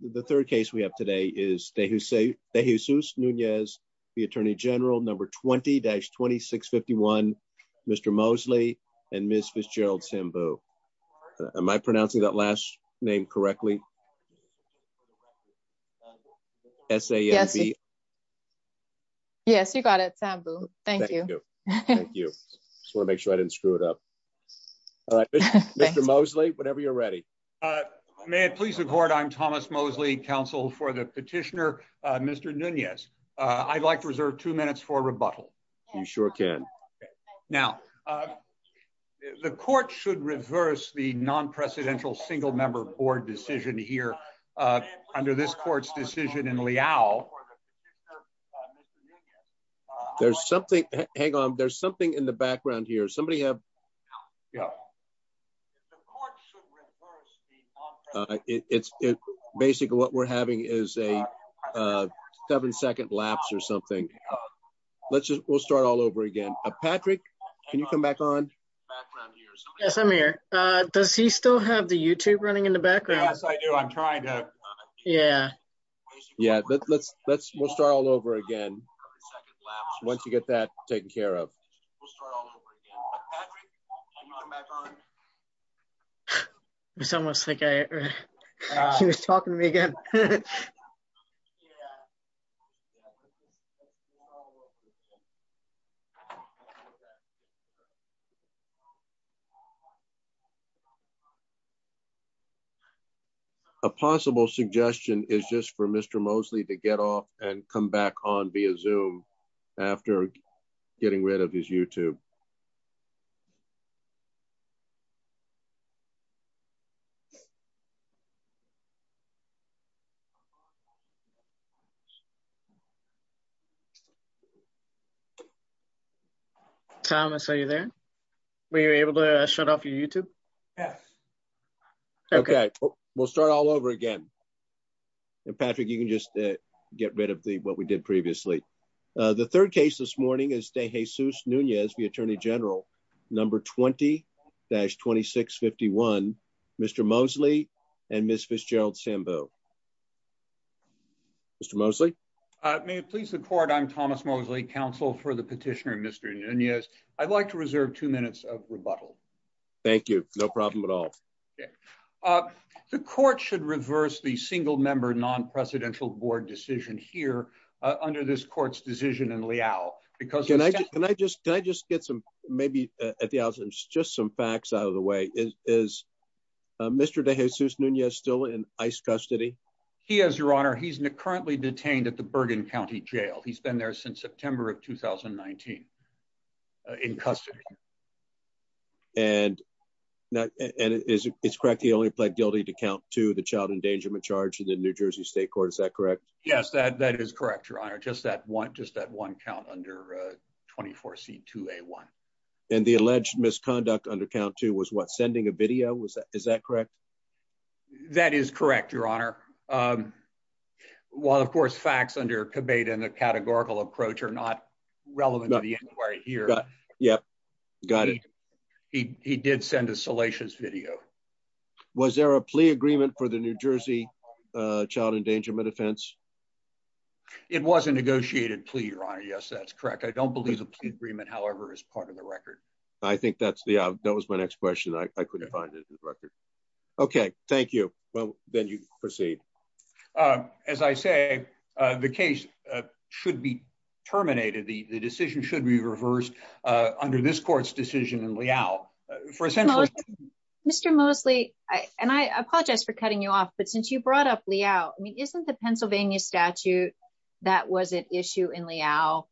The third case we have today is they who say they who Seuss Nunez, the attorney general number 20-26 51. Mr Mosley and Miss Fitzgerald Simbu. Am I pronouncing that last name correctly? S. A. S. Yes, you got it. Thank you. Thank you. Just wanna make sure I didn't screw it up. All right, Mr Mosley, whenever you're ready, uh, man, please report. I'm Thomas Mosley, counsel for the petitioner. Mr Nunez, I'd like to reserve two minutes for rebuttal. You sure can. Now, uh, the court should reverse the nonpresidential single member board decision here. Uh, under this court's decision in Liao, there's something hang on. There's something in the background here. Somebody have Yeah, it's basically what we're having is a seven second lapse or something. Let's just we'll start all over again. Patrick, can you come back on? Yes, I'm here. Does he still have the YouTube running in the background? I do. I'm trying to. Yeah. Yeah, let's let's we'll start all over again. Once you get that taken care of, I'm on my phone. It's almost like I was talking to me again. Yeah. A possible suggestion is just for Mr Mosley to get off and come back on via zoom after getting rid of his YouTube. Yeah. Thomas, are you there? Were you able to shut off your YouTube? Yes. Okay, we'll start all over again. Patrick, you can just get rid of the what we did previously. The third case this morning is de Jesus Nunez, the attorney general number 20-26 51 Mr Mosley and Miss Fitzgerald Sambo. Mr Mosley, may it please the court. I'm Thomas Mosley, counsel for the petitioner. Mr Nunez. I'd like to reserve two minutes of rebuttal. Thank you. No problem at all. Uh, the court should reverse the single member nonpresidential board decision here under this court's decision in Liao because can I just can I just get some maybe at the house and just some facts out of the way is Mr de Jesus Nunez still in ice custody? He has your honor. He's currently detained at the Bergen County Jail. He's been there since September of 2019 in custody. And and it's correct. He only pled guilty to count to the child endangerment charge in the New Jersey State Court. Is that correct? Yes, that that is correct. Your honor. Just that one, just that one count under 24 C two a one and the alleged misconduct under count to was what sending a video was. Is that correct? That is correct, your honor. Um, well, of course, facts under debate and the categorical approach are not relevant to the inquiry here. Yeah, got it. He did send a salacious video. Was there a plea agreement for the New Jersey child endangerment offense? It was a negotiated plea, your honor. Yes, that's correct. I don't believe the agreement, however, is part of the record. I think that's the that was my next question. I couldn't find it in the record. Okay, thank you. Well, then you proceed. Uh, as I say, the case should be terminated. The decision should be reversed under this court's decision in Liao for essentially Mr. For cutting you off. But since you brought up Liao, I mean, isn't the Pennsylvania statute that was an issue in Liao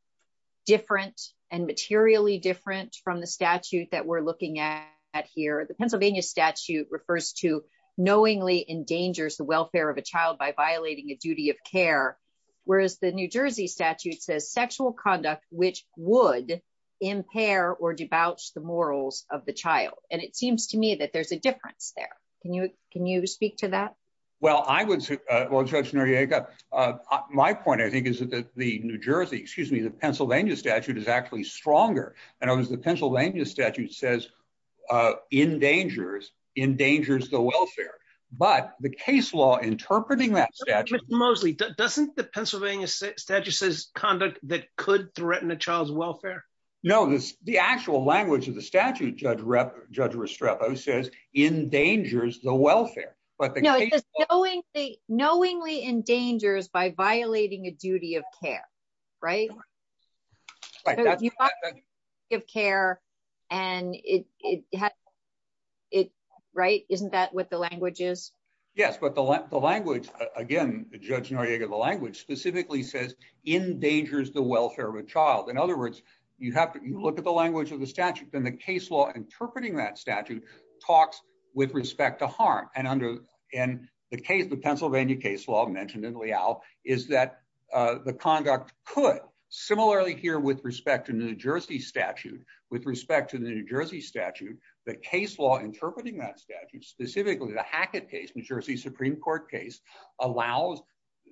different and materially different from the statute that we're looking at here? The Pennsylvania statute refers to knowingly endangers the welfare of a child by violating a duty of care, whereas the New Jersey statute says sexual conduct, which would impair or debauch the morals of the child. And it seems to me that there's a difference there. Can you? Can you speak to that? Well, I would well, Judge Noriega. Uh, my point, I think, is that the New Jersey excuse me, the Pennsylvania statute is actually stronger. And I was the Pennsylvania statute says, uh, in dangers in dangers the welfare. But the case law interpreting that statute mostly doesn't the Pennsylvania Statute says conduct that could threaten a child's welfare. No, the actual language of the statute, Judge Rep. Judge Restrepo says in dangers the welfare, but knowingly endangers by violating a duty of care, right? Give care and it had it right. Isn't that what the language is? Yes. But the language again, Judge Noriega, the language specifically says in dangers the welfare of a child. In other words, you have to look at the language of the statute. Then the case law interpreting that statute talks with respect to harm. And under and the case, the Pennsylvania case law mentioned in Liao is that the conduct could similarly here with respect to New Jersey statute with respect to the New Jersey statute, the case law interpreting that statute specifically the Hackett case, New Jersey Supreme Court case allows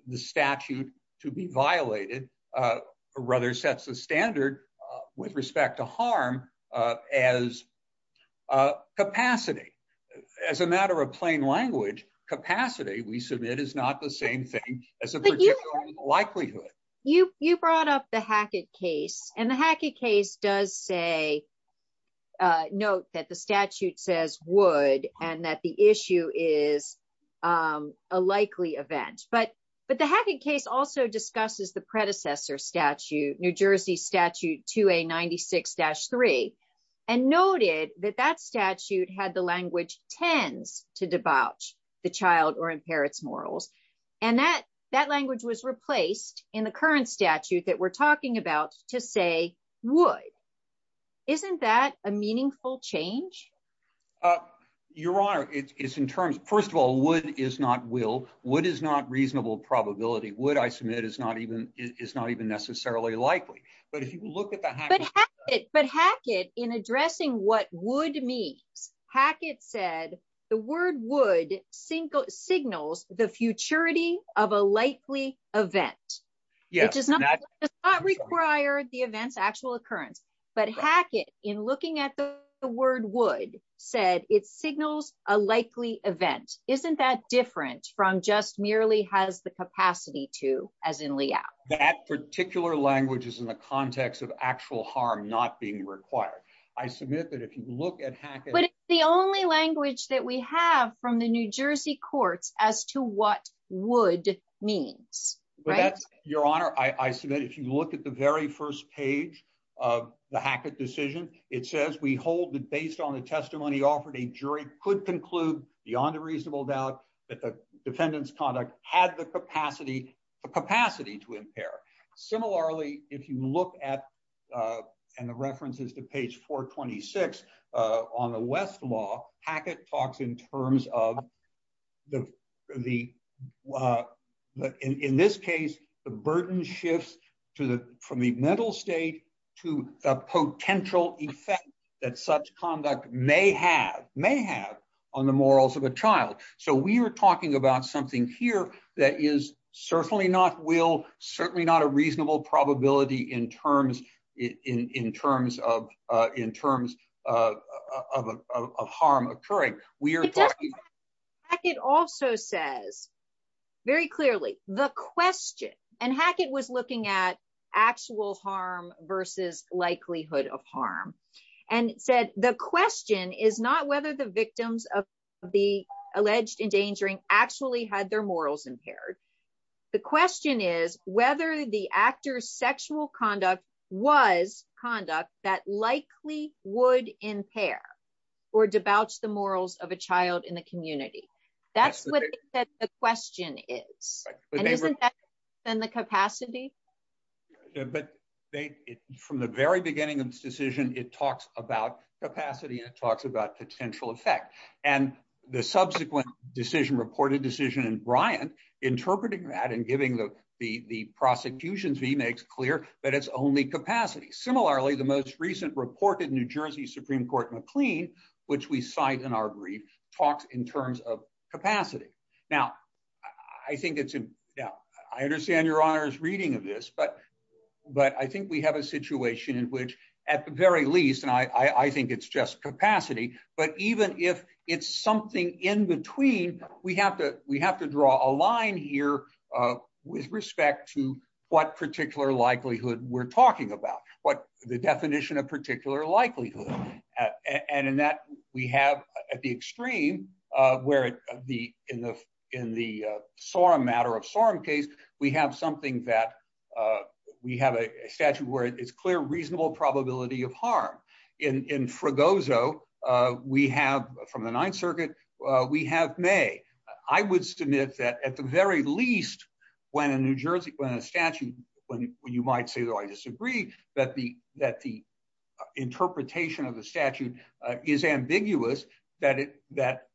the statute to be violated. Uh, rather sets the standard with respect to harm as a capacity as a matter of plain language capacity. We submit is not the same thing as a particular likelihood. You brought up the Hackett case and the Hackett case does say, uh, note that the statute says would and that the issue is, um, a likely event. But but the Hackett case also discusses the predecessor statute, New Jersey statute to a 96-3 and noted that that statute had the language tends to debauch the child or impair its morals. And that that language was replaced in the current statute that we're talking about to say would. Isn't that a meaningful change? Uh, your honor, it's in terms. First of all, what is not will? What is not reasonable? Probability would I submit is not even is not even necessarily likely. But if you look at the hack, but Hackett in addressing what would means, Hackett said the word would single signals the futurity of a likely event, which is not required the events actual occurrence. But Hackett in looking at the word would said it signals a likely event. Isn't that different from just merely has the capacity to, as in layout that particular language is in the context of actual harm not being required. I submit that if you look at Hackett, the only language that we have from the New Jersey courts as to what would means, but that's your honor. I submit if you look at the very first page of the Hackett decision, it says we hold that based on the testimony offered, a jury could conclude beyond a reasonable doubt that the defendant's conduct had the capacity capacity to impair. Similarly, if you look at, uh, and the references to page 426 on the West law, Hackett talks in terms of the, uh, in this case, the burden shifts to the from the mental state to a potential effect that such conduct may have may have on the morals of a child. So we're talking about something here that is certainly not will certainly not a reasonable probability in terms in terms of, uh, in terms, uh, of, of, of, of harm occurring. We are talking, it also says very clearly the question and Hackett was looking at actual harm versus likelihood of harm and said, the question is not whether the victims of the alleged endangering actually had their morals impaired. The question is whether the actor's sexual conduct was conduct that likely would impair or debauch the morals of a child in the community. That's what the question is. And isn't that then the capacity, but they, from the very beginning of this decision, it talks about capacity and it talks about potential effect and the subsequent decision reported decision in Bryant interpreting that and giving the, the, the prosecution's V makes clear that it's only capacity. Similarly, the most recent reported New Jersey Supreme Court McLean, which we cite in our brief talks in terms of capacity. Now I think it's, I understand your honors reading of this, but, but I think we have a situation in which at the very least, and I, I think it's just capacity, but even if it's something in between, we have to, we have to draw a line here, uh, with respect to what particular likelihood we're talking about, what the definition of particular likelihood. Uh, and in that we have at the extreme, uh, where the, in the, in the, uh, SORM matter of SORM case, we have something that, uh, we have a statute where it's clear, reasonable probability of harm in, in Fregoso. Uh, we have from the ninth circuit, uh, we have may, I would submit that at the very least when a New Jersey, when a that the, that the interpretation of the statute is ambiguous, that it, that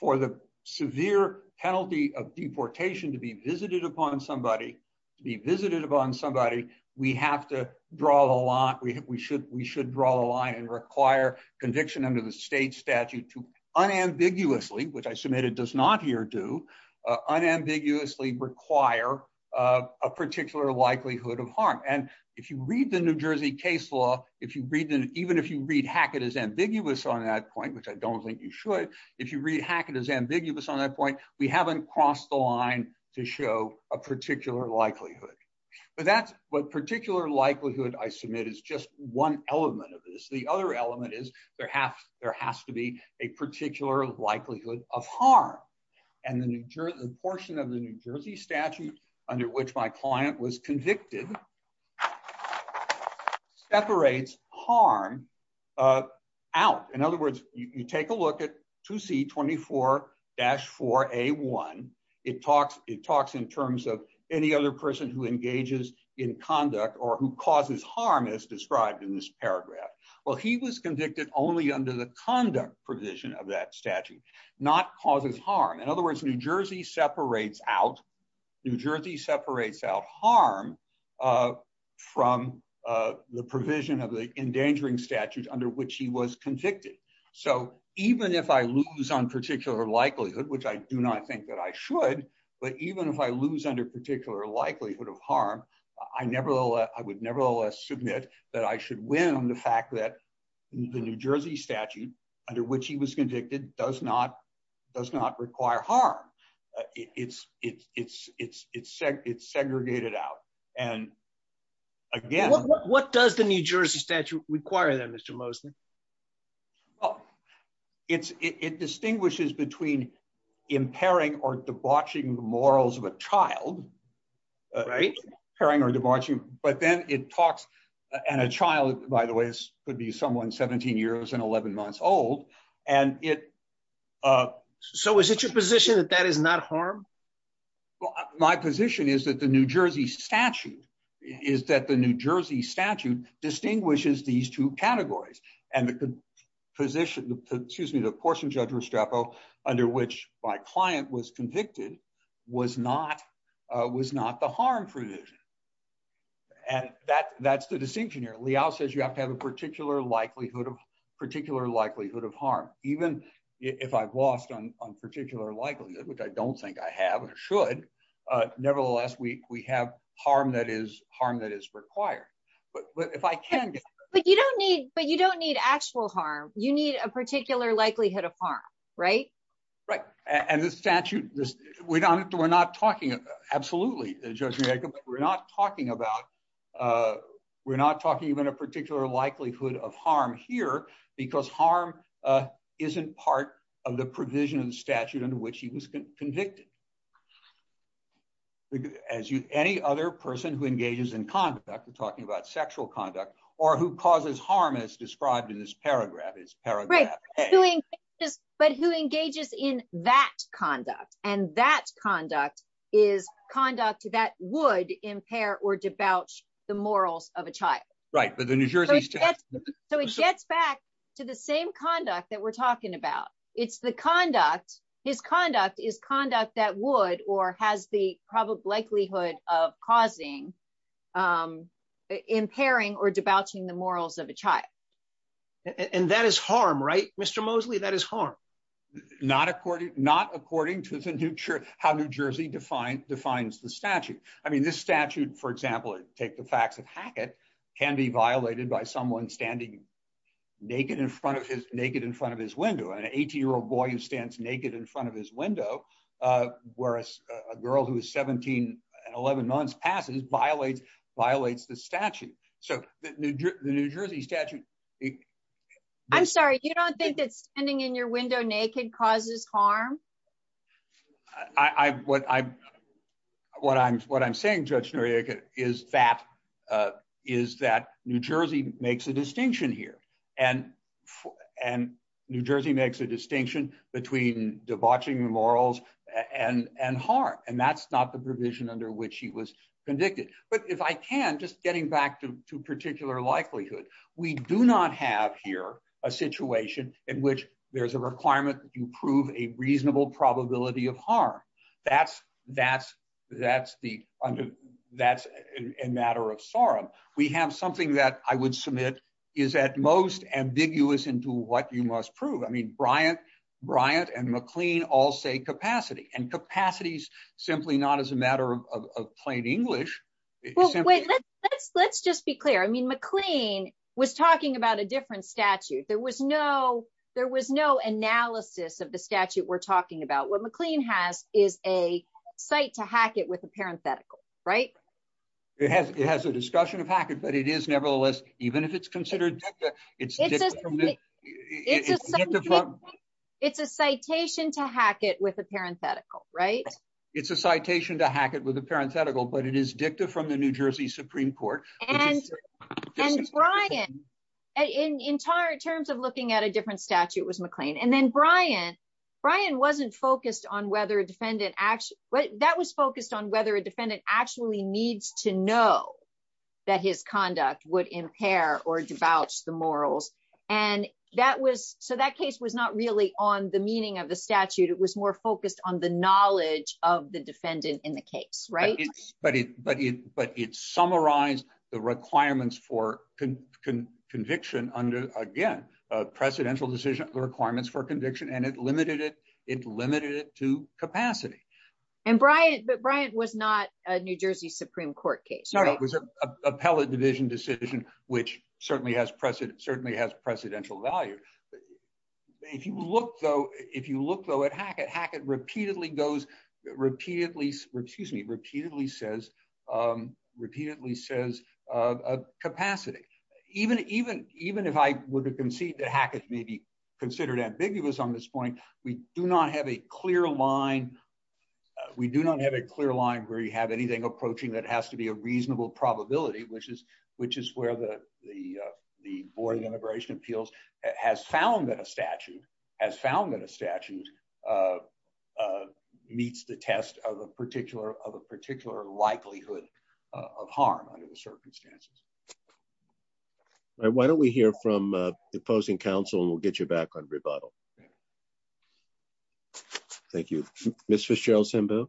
for the severe penalty of deportation to be visited upon somebody, to be visited upon somebody, we have to draw the line. We, we should, we should draw the line and require conviction under the state statute to unambiguously, which I submitted does not here do, uh, unambiguously require, uh, a particular likelihood of harm. And if you read the New Jersey case law, if you read them, even if you read Hackett is ambiguous on that point, which I don't think you should, if you read Hackett is ambiguous on that point, we haven't crossed the line to show a particular likelihood, but that's what particular likelihood I submit is just one element of this. The other element is there have, there has to be a particular likelihood of harm and the New Jersey portion of the New Jersey statute, which is convicted, separates harm, uh, out. In other words, you take a look at 2C24-4A1, it talks, it talks in terms of any other person who engages in conduct or who causes harm as described in this paragraph. Well, he was convicted only under the conduct provision of that statute, not causes harm. In other words, New Jersey separates out, New Jersey separates out harm, uh, from, uh, the provision of the endangering statute under which he was convicted. So even if I lose on particular likelihood, which I do not think that I should, but even if I lose under particular likelihood of harm, I never, I would nevertheless submit that I should win on the fact that the New Jersey statute under which he was convicted does not, does not require harm. Uh, it's, it's, it's, it's, it's seg, it's segregated out. And again, what does the New Jersey statute require then Mr. Mosley? Oh, it's, it, it distinguishes between impairing or debauching the morals of a child, uh, impairing or debauching, but then it talks, and a child, by the way, this could be someone 17 years and 11 months old. And it, uh, so is it your position that that is not harm? My position is that the New Jersey statute is that the New Jersey statute distinguishes these two categories and the position, excuse me, the portion judge Restrepo under which my client was convicted was not, uh, was not the harm provision. And that, that's the distinction here. Liao says you have to have a particular likelihood of particular likelihood of harm. Even if I've lost on, on particular likelihood, which I don't think I have or should, uh, nevertheless, we, we have harm that is harm that is required, but, but if I can, but you don't need, but you don't need actual harm. You need a particular likelihood of harm, right? Right. And the statute, we're not, we're not talking, absolutely. We're not talking about, uh, we're not talking even a particular likelihood of harm here because harm, uh, isn't part of the provision of the statute under which he was convicted. As you, any other person who engages in conduct, we're talking about sexual conduct or who causes harm as described in this paragraph is paragraph. But who engages in that conduct and that conduct is conduct that would impair or debauch the morals of a child. Right. But the New Jersey, so it gets back to the same conduct that we're talking about. It's the conduct. His conduct is conduct that would, or has the probable likelihood of causing, um, impairing or debauching the morals of a child. And that is harm, right? Mr. Mosley, that is harm. Not according, not according to the new church, how New Jersey defined defines the statute. I mean, this statute, for example, take the facts of Hackett can be violated by someone standing naked in front of his naked in front of his window and an 18 year old boy who stands naked in front of his window. Uh, whereas a girl who is 17 and 11 months passes violates, violates the statute. So the New Jersey statute. I'm sorry. You don't think that's ending in your window naked causes harm. I, what I'm, what I'm, what I'm saying, Judge Noriega, is that, uh, is that New Jersey makes a distinction here and, and New Jersey makes a distinction between debauching the morals and, and harm. And that's not the provision under which he was convicted. But if I can just getting back to particular likelihood, we do not have here a situation in which there's a requirement that you prove a reasonable probability of harm. That's, that's, that's the, that's a matter of sorrow. We have something that I would submit is at most ambiguous into what you must prove. I mean, Bryant, Bryant and McLean all say capacity and capacities, simply not as a matter of plain English. Well, wait, let's, let's just be clear. I mean, McLean was talking about a different statute. There was no, there was no analysis of the statute we're talking about. What McLean has is a site to hack it with a parenthetical, right? It has, it has a discussion of hack it, but it is nevertheless, even if it's considered it's, it's, it's a citation to hack it with a parenthetical, right? It's a citation to hack it with a parenthetical, but it is dicta from the New Jersey Supreme Court. And, and Brian, in, in terms of looking at a different statute was McLean. And then Brian, Brian wasn't focused on whether a defendant actually, that was focused on whether a defendant actually needs to know that his conduct would impair or debauch the morals. And that was, so that case was not really on the meaning of the statute. It was more focused on the knowledge of the defendant in the case, right? But it, but it, but it summarized the requirements for conviction under, again, a precedential decision, the requirements for conviction, and it limited it, it limited it to capacity. And Brian, but Brian was not a New Jersey Supreme Court case. No, it was an appellate division decision, which certainly has precedent, certainly has precedential value. If you look though, if you look though at hack it, hack it repeatedly goes, repeatedly, excuse me, repeatedly says, repeatedly says, capacity, even, even, even if I were to concede that hack it may be considered ambiguous on this point, we do not have a clear line. We do not have a clear line where you have anything approaching that has to be a reasonable probability, which is, which is where the, the, the Board of Immigration Appeals has found that a statute has found that a statute meets the test of a particular likelihood of harm under the circumstances. Why don't we hear from the opposing counsel and we'll get you back on rebuttal. Thank you. Ms. Fitzgerald-Sambu.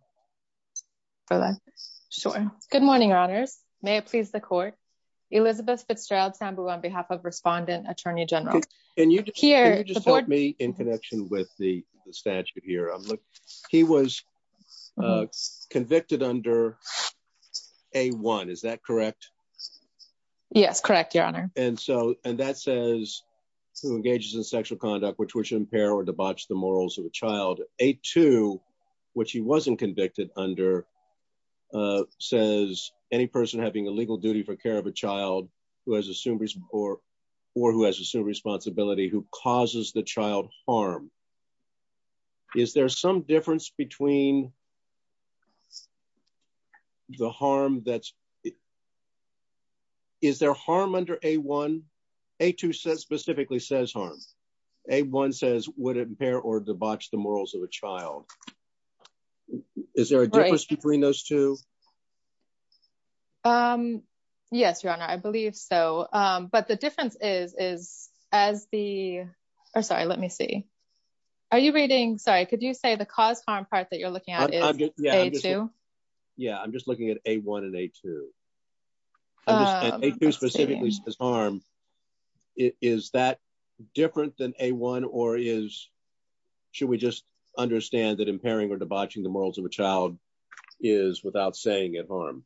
Sure. Good morning, Your Honors. May it please the court. Elizabeth Fitzgerald-Sambu on behalf of Respondent Attorney General. Can you just help me in connection with the statute here? He was convicted under A-1, is that correct? Yes, correct, Your Honor. And so, and that says who engages in sexual conduct, which would impair or debauch the morals of a child. A-2, which he wasn't convicted under says any person having a legal duty for care of a child who has assumed or, or who has assumed responsibility, who causes the child harm. Is there some difference between the harm that's, is there harm under A-1? A-2 says, specifically says harm. A-1 says would impair or debauch the morals of a child. Is there a difference between those two? Yes, Your Honor. I believe so. But the difference is, is as the, or sorry, let me see. Are you reading, sorry, could you say the cause harm part that you're looking at is A-2? Yeah, I'm just looking at A-1 and A-2. And A-2 specifically says harm. Is that different than A-1 or is, should we just understand that impairing or debauching the morals of a child is without saying at harm?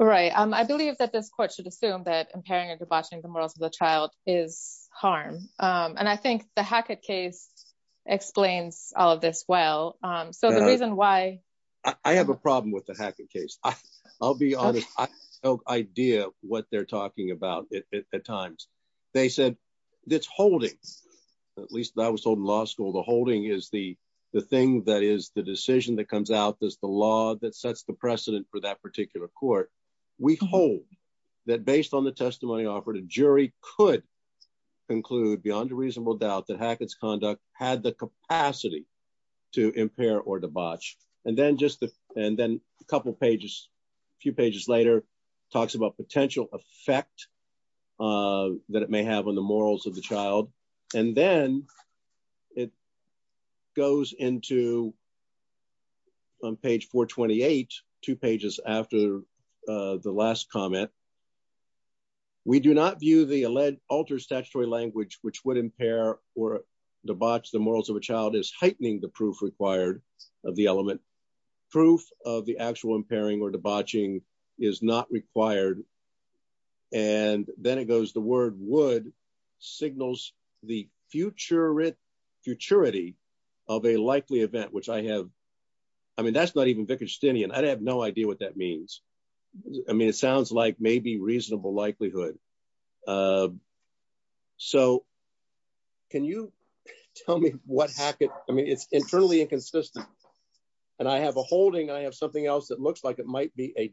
Right. I believe that this court should assume that impairing or debauching the morals of the child is harm. And I think the Hackett case explains all of this well. So the reason why. I have a problem with the Hackett case. I'll be honest, I have no idea what they're talking about at times. They said that's holding, at least that was told in law school. The holding is the, the thing that is the decision that comes out. There's the law that sets the precedent for that particular court. We hold that based on the testimony offered, a jury could conclude beyond a reasonable doubt that Hackett's conduct had the capacity to impair or debauch. And then just the, and then a couple of pages, a few pages later talks about potential effect that it may have on the morals of the child. And then it goes into on page four 28, two pages after the last comment. We do not view the alleged altered statutory language, which would impair or debauch the morals of a child is heightening the proof required of the element proof of the actual impairing or debauching is not required. And then it goes, the word would signals the future. It futurity of a likely event, which I have. I mean, that's not even Vicar Stinney. And I'd have no idea what that means. I mean, it sounds like maybe reasonable likelihood. Uh, so can you tell me what Hackett, I mean, it's internally inconsistent and I have a holding, I have something else that looks like it might be a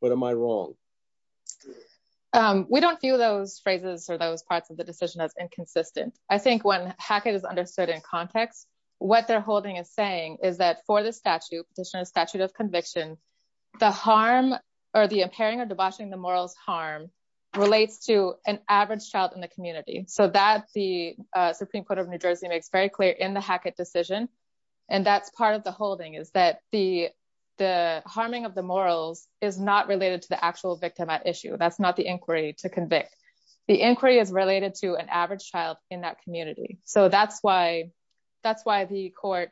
what am I wrong? Um, we don't feel those phrases or those parts of the decision as inconsistent. I think when Hackett is understood in context, what they're holding is saying is that for the statute petitioner statute of conviction, the harm or the impairing or debauching the morals harm relates to an average child in the community. So that the, uh, Supreme court of New Jersey makes very clear in the Hackett decision. And that's part of the holding is that the, the harming of the morals is not related to the actual victim at issue. That's not the inquiry to convict. The inquiry is related to an average child in that community. So that's why, that's why the court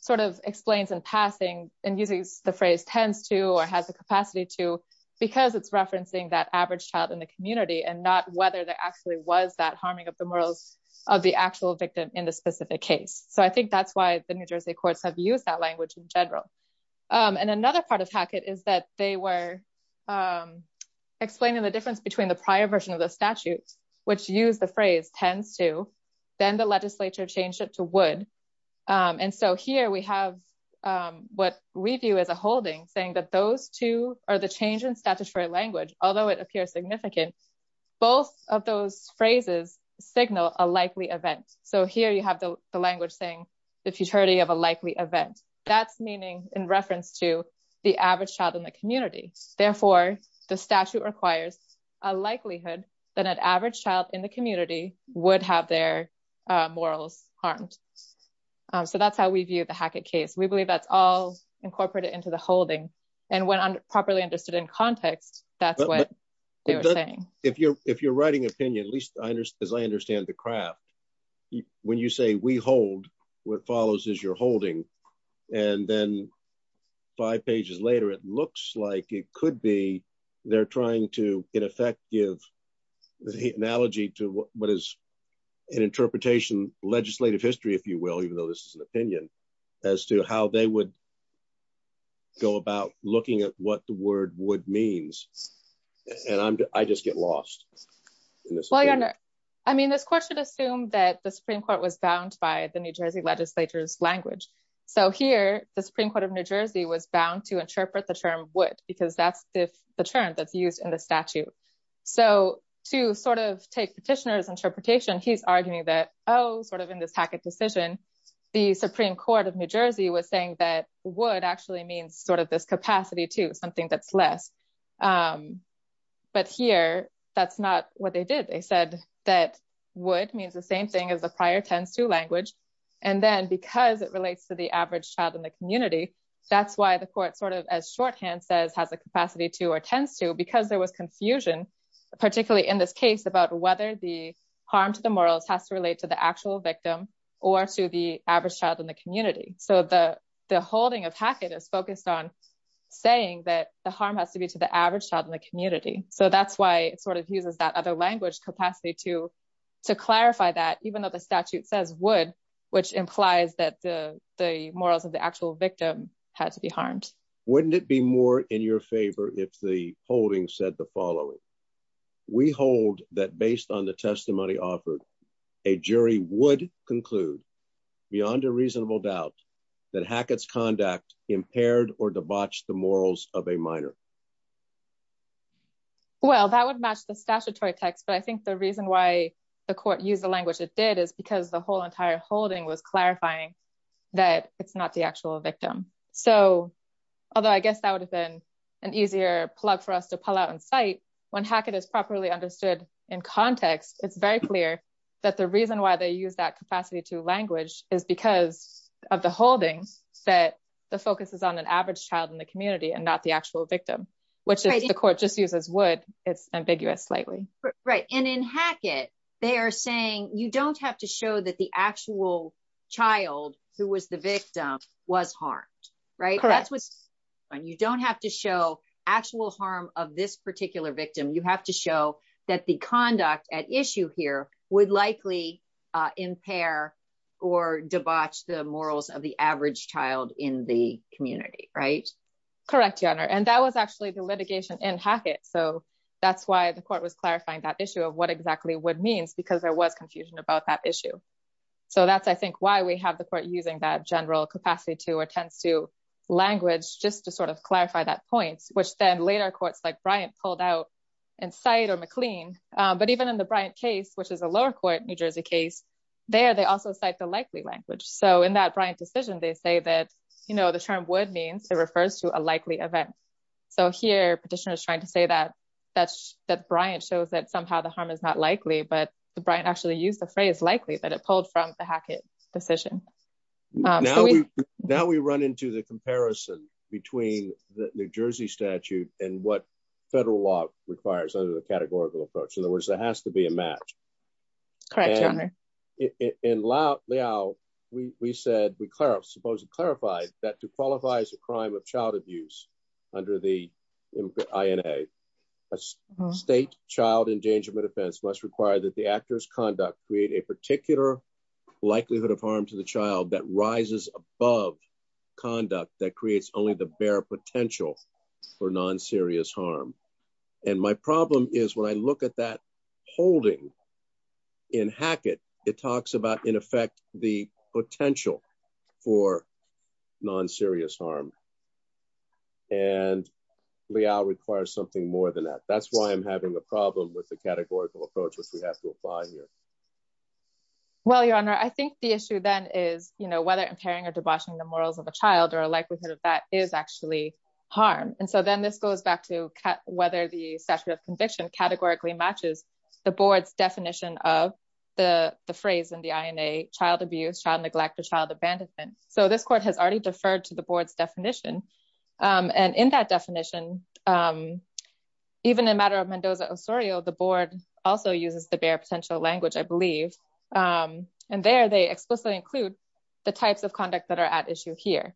sort of explains in passing and using the phrase tends to, or has the capacity to, because it's referencing that average child in the community and not whether there actually was that harming of the morals of the actual victim in the specific case. So I think that's why the New Jersey courts have used that language in general. Um, and another part of Hackett is that they were, um, explaining the difference between the prior version of the statute, which used the phrase tends to, then the legislature changed it to would. Um, and so here we have, um, what we view as a holding saying that those two are the change in statutory language, although it appears significant, both of those phrases signal a likely event. So here you have the language saying the futility of a likely event that's meaning in reference to the average child in the community, therefore the statute requires a likelihood that an average child in the community would have their, uh, morals harmed. Um, so that's how we view the Hackett case. We believe that's all incorporated into the holding and when I'm properly understood in context, that's what they were saying. If you're, if you're writing opinion, at least I understand, as I understand the craft, when you say we hold, what follows is you're holding. And then five pages later, it looks like it could be, they're trying to in effect give the analogy to what is an interpretation legislative history, if you will, even though this is an opinion as to how they would go about looking at what the word would means. And I'm, I just get lost. Well, you're under, I mean, this court should assume that the Supreme court was bound by the New Jersey legislature's language. So here the Supreme court of New Jersey was bound to interpret the term would, because that's the term that's used in the statute. So to sort of take petitioner's interpretation, he's arguing that, Oh, sort of in this Hackett decision, the Supreme court of New Jersey was saying that would actually means sort of this capacity to something that's less. Um, but here that's not what they did. They said that would means the same thing as the prior tends to language. And then because it relates to the average child in the community, that's why the court sort of as shorthand says has a capacity to, or tends to, because there was confusion, particularly in this case about whether the harm to the morals has to relate to the actual victim or to the average child in the community. So the, the holding of Hackett is focused on saying that the harm has to be to the average child in the community. So that's why it sort of uses that other language capacity to, to clarify that, even though the statute says would, which implies that the morals of the actual victim had to be harmed. Wouldn't it be more in your favor? If the holding said the following, we hold that based on the testimony offered a jury would conclude beyond a reasonable doubt that Hackett's conduct impaired or debauch the morals of a minor. Well, that would match the statutory text, but I think the reason why the court used the language it did is because the whole entire holding was clarifying that it's not the actual victim. So, although I guess that would have been an easier plug for us to pull out and cite when Hackett is properly understood in context, it's very clear that the reason why they use that capacity to language is because of the holdings that the focus is on an average child in the community and not the actual victim, which is the court just uses would it's ambiguous slightly. Right. And in Hackett, they are saying you don't have to show that the actual child who was the victim was harmed, right? That's what's going on. You don't have to show actual harm of this particular victim. You have to show that the conduct at issue here would likely impair or debauch the morals of the average child in the community, right? Correct. Your honor. And that was actually the litigation in Hackett. So that's why the court was clarifying that issue of what exactly would means because there was confusion about that issue. So that's, I think why we have the court using that general capacity to, or tends to language just to sort of clarify that point, which then later courts like Bryant pulled out and cite or McLean. But even in the Bryant case, which is a lower court, New Jersey case there, they also cite the likely language. So in that Bryant decision, they say that, you know, the term would means it refers to a likely event. So here petitioner is trying to say that that's that Bryant shows that somehow the harm is not likely, but the Bryant actually used the phrase likely that it pulled from the Hackett decision. Now we run into the comparison between the New Jersey statute and what federal law requires under the categorical approach. In other words, there has to be a match. Correct. Your honor. In Lao, we said, we clarify, supposedly clarified that to qualify as a crime of child abuse under the INA state child endangerment offense must require that the actor's conduct create a particular likelihood of harm to the child that rises above conduct that creates only the bare potential for non-serious harm. And my problem is when I look at that holding in Hackett, it talks about in effect, the potential for non-serious harm. And we all require something more than that. That's why I'm having a problem with the categorical approach, which we have to apply here. Well, your honor, I think the issue then is, you know, whether impairing or debauching the morals of a child or a likelihood of that is actually harm. And so then this goes back to whether the statute of conviction categorically matches the board's definition of the phrase in the INA child abuse, child neglect, or child abandonment. So this court has already deferred to the board's definition. And in that definition, even a matter of Mendoza Osorio, the board also uses the bare potential language, I believe. And there they explicitly include the types of conduct that are at issue here.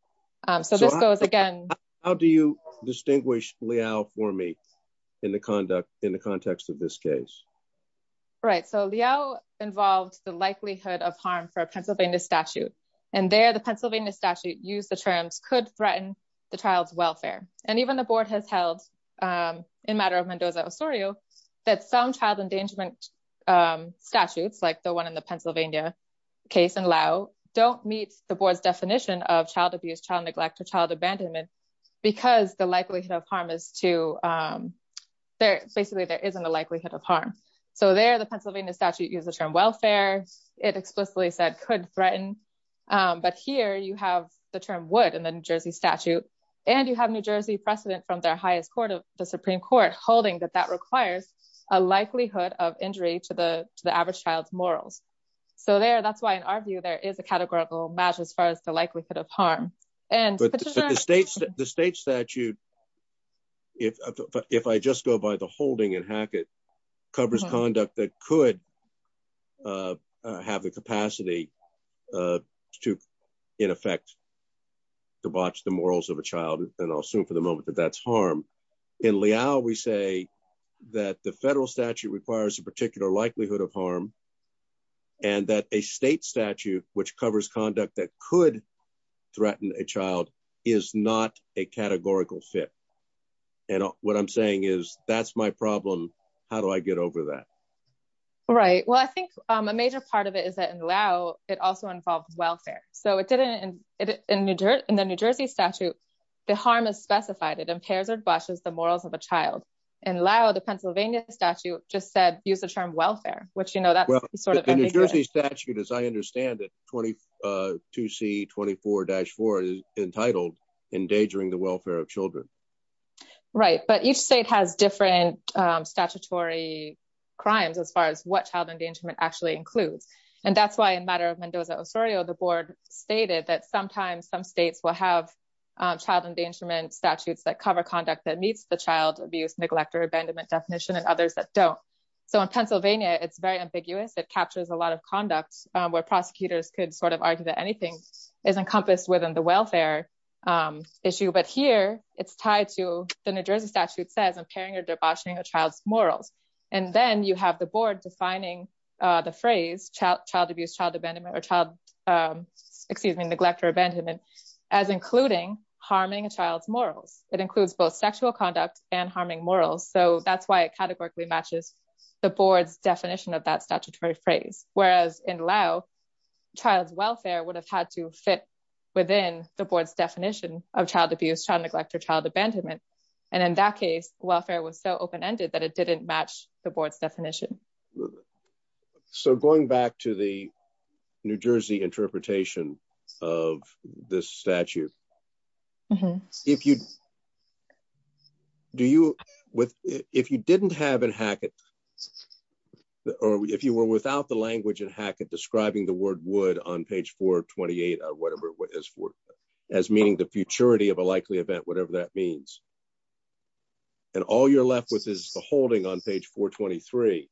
So this goes again, how do you distinguish Liao for me in the conduct, in the context of this case? Right. So Liao involved the likelihood of harm for a Pennsylvania statute. And there the Pennsylvania statute used the terms could threaten the child's welfare. And even the board has held in matter of Mendoza Osorio, that some child endangerment statutes, like the one in the Pennsylvania case in Liao, don't meet the board's definition of child abuse, child neglect, or child abandonment. Because the likelihood of harm is to there, basically there isn't a likelihood of harm. So there, the Pennsylvania statute used the term welfare. It explicitly said could threaten. But here you have the term would in the New Jersey statute. And you have New Jersey precedent from their highest court of the Supreme court, holding that that requires a likelihood of injury to the average child's morals. So there, that's why in our view, there is a categorical match as far as the likelihood of harm. And the state statute, if I just go by the holding in Hackett, covers conduct that could have the capacity to in effect, to watch the morals of a child. And I'll assume for the moment that that's harm in Liao. We say that the federal statute requires a particular likelihood of harm. And that a state statute, which covers conduct that could threaten a child is not a categorical fit. And what I'm saying is that's my problem. How do I get over that? Right. Well, I think a major part of it is that in Liao, it also involves welfare. So it didn't in New Jersey, in the New Jersey statute, the harm is specified. It impairs or blushes the morals of a child. In Liao, the Pennsylvania statute just said, use the term welfare, which, you know, that's sort of the New Jersey statute, as I understand it. 22 C 24 dash four is entitled endangering the welfare of children. Right. But each state has different statutory crimes as far as what child endangerment actually includes. And that's why in matter of Mendoza Osorio, the board stated that sometimes some states will have child endangerment statutes that cover conduct that meets the child abuse, neglect or abandonment definition and others that don't. So in Pennsylvania, it's very ambiguous. It captures a lot of conduct where prosecutors could sort of argue that anything is encompassed within the welfare issue, but here it's tied to the New Jersey statute says impairing or debauching a child's morals. And then you have the board defining the phrase child abuse, child abandonment or child, excuse me, neglect or abandonment as including harming a child's morals. It includes both sexual conduct and harming morals. So that's why it categorically matches the board's definition of that statutory phrase. Whereas in Liao, child's welfare would have had to fit within the board's definition of child abuse, child neglect, or child abandonment. And in that case, welfare was so open-ended that it didn't match the board's definition. So going back to the New Jersey interpretation of this statute, if you, do you, with, if you didn't have an Hackett or if you were without the language and Hackett describing the word would on page four 28 or whatever, what is for as meaning the futurity of a likely event, whatever that means. And all you're left with is the holding on page four 23,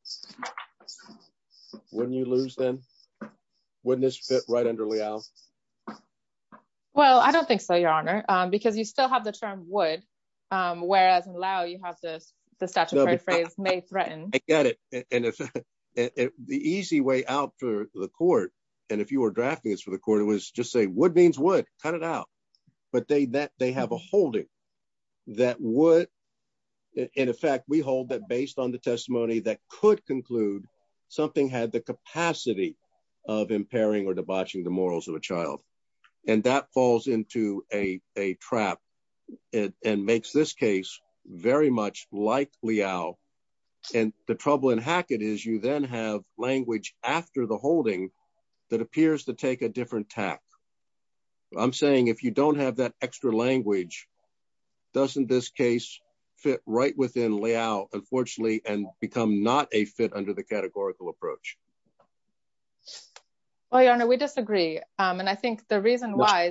when you lose them, wouldn't this fit right under Liao? Well, I don't think so, your honor, because you still have the term would, um, whereas in Liao you have this, the statutory phrase may threaten. I get it. And if the easy way out for the court, and if you were drafting this for the court, it was just say would means would cut it out, but they, that they have a would, in effect, we hold that based on the testimony that could conclude something had the capacity of impairing or debauching the morals of a child. And that falls into a trap and makes this case very much like Liao. And the trouble in Hackett is you then have language after the holding that appears to take a different tack. I'm saying if you don't have that extra language, doesn't this case fit right within Liao, unfortunately, and become not a fit under the categorical approach. Well, your honor, we disagree. Um, and I think the reason why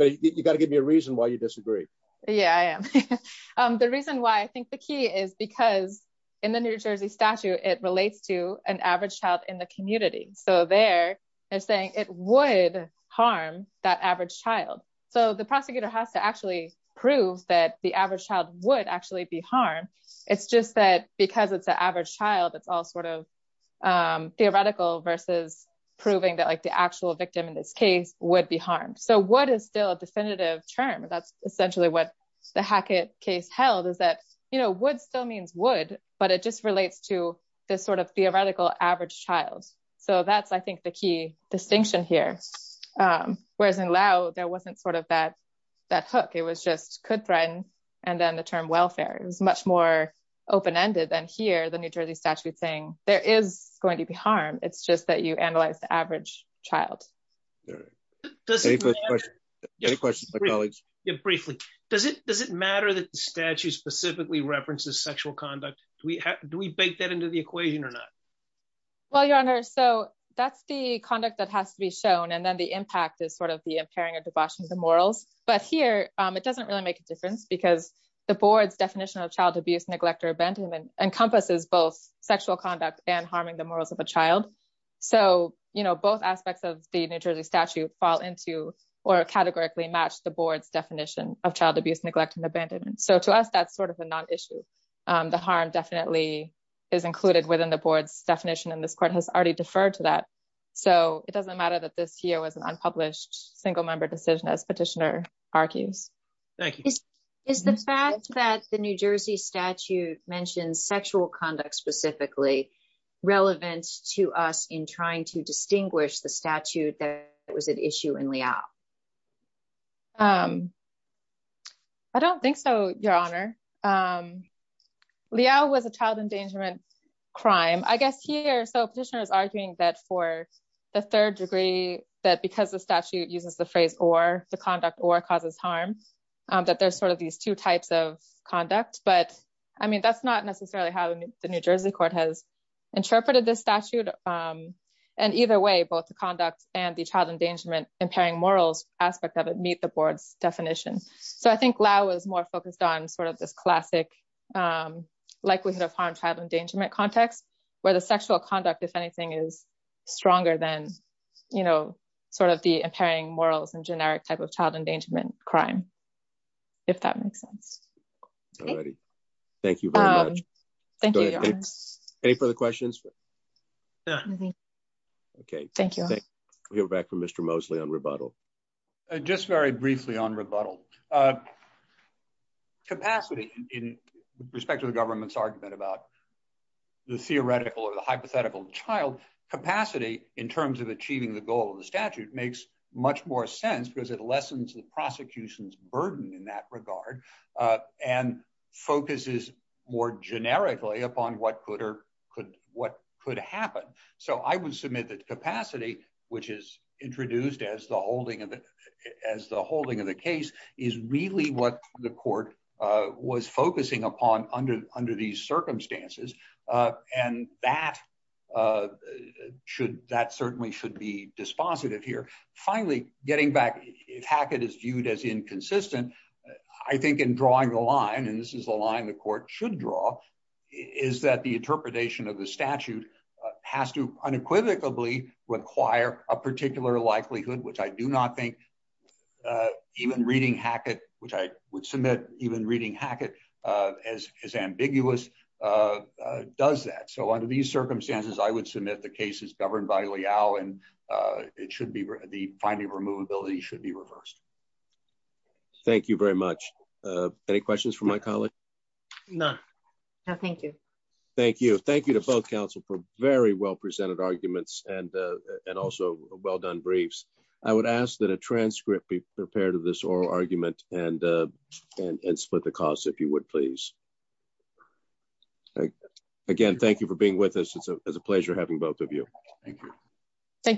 you got to give me a reason why you disagree. Yeah, I am. Um, the reason why I think the key is because in the New Jersey statute, it relates to an average child in the community. So there they're saying it would harm that average child. So the prosecutor has to actually prove that the average child would actually be harmed. It's just that because it's an average child, it's all sort of, um, theoretical versus proving that like the actual victim in this case would be harmed. So what is still a definitive term? That's essentially what the Hackett case held is that, you know, would still means would, but it just relates to this sort of theoretical average child. So that's, I think the key distinction here. Um, whereas in Liao, there wasn't sort of that, that hook, it was just could threaten, and then the term welfare, it was much more open-ended than here. The New Jersey statute saying there is going to be harm. It's just that you analyze the average child. Yeah. Briefly, does it, does it matter that the statute specifically references sexual conduct? Do we, do we bake that into the equation or not? Well, your honor. So that's the conduct that has to be shown. And then the impact is sort of the impairing or debauching the morals, but here, um, it doesn't really make a difference because the board's definition of child abuse, neglect, or abandonment encompasses both sexual conduct and harming the morals of a child. So, you know, both aspects of the New Jersey statute fall into, or categorically match the board's definition of child abuse, neglect, and abandonment. So to us, that's sort of a non-issue. Um, the harm definitely is included within the board's definition and this court has already deferred to that. So it doesn't matter that this here was an unpublished single member decision as petitioner argues. Thank you. Is the fact that the New Jersey statute mentioned sexual conduct specifically relevant to us in trying to distinguish the statute that was at issue in Liao? Um, I don't think so, your honor. Um, Liao was a child endangerment crime, I guess here. So petitioner is arguing that for the third degree, that because the statute uses the phrase, or the conduct or causes harm, um, that there's sort of these two types of conduct, but I mean, that's not necessarily how the New Jersey court has interpreted this statute, um, and either way, both the conduct and the child endangerment impairing morals aspect of it meet the board's definition. So I think Liao was more focused on sort of this classic, um, likelihood of harm, child endangerment context where the sexual conduct, if anything is stronger than, you know, sort of the impairing morals and generic type of child endangerment crime, if that makes sense, thank you very much. Thank you. Any further questions? Okay. Thank you. We'll go back to Mr. Mosley on rebuttal. Just very briefly on rebuttal, uh, capacity in respect to the government's argument about the theoretical or the hypothetical child capacity in terms of achieving the goal of the statute makes much more sense because it lessens the prosecution's burden in that regard. Uh, and focuses more generically upon what could or could, what could happen. So I would submit that capacity, which is introduced as the holding of it as the holding of the case is really what the court, uh, was focusing upon under, under these circumstances. Uh, and that, uh, should, that certainly should be dispositive here. Finally, getting back, if Hackett is viewed as inconsistent, I think in drawing the line, and this is the line the court should draw is that the unequivocally require a particular likelihood, which I do not think. Uh, even reading Hackett, which I would submit even reading Hackett, uh, as, as ambiguous, uh, uh, does that. So under these circumstances, I would submit the case is governed by Liao and, uh, it should be the finding of removability should be reversed. Thank you very much. Uh, any questions from my colleague? None. No, thank you. Thank you. Thank you to both counsel for very well presented arguments and, uh, and also well done briefs. I would ask that a transcript be prepared to this oral argument and, uh, and, and split the costs if you would, please. Again, thank you for being with us. It's a, it's a pleasure having both of you. Thank you. Thank you.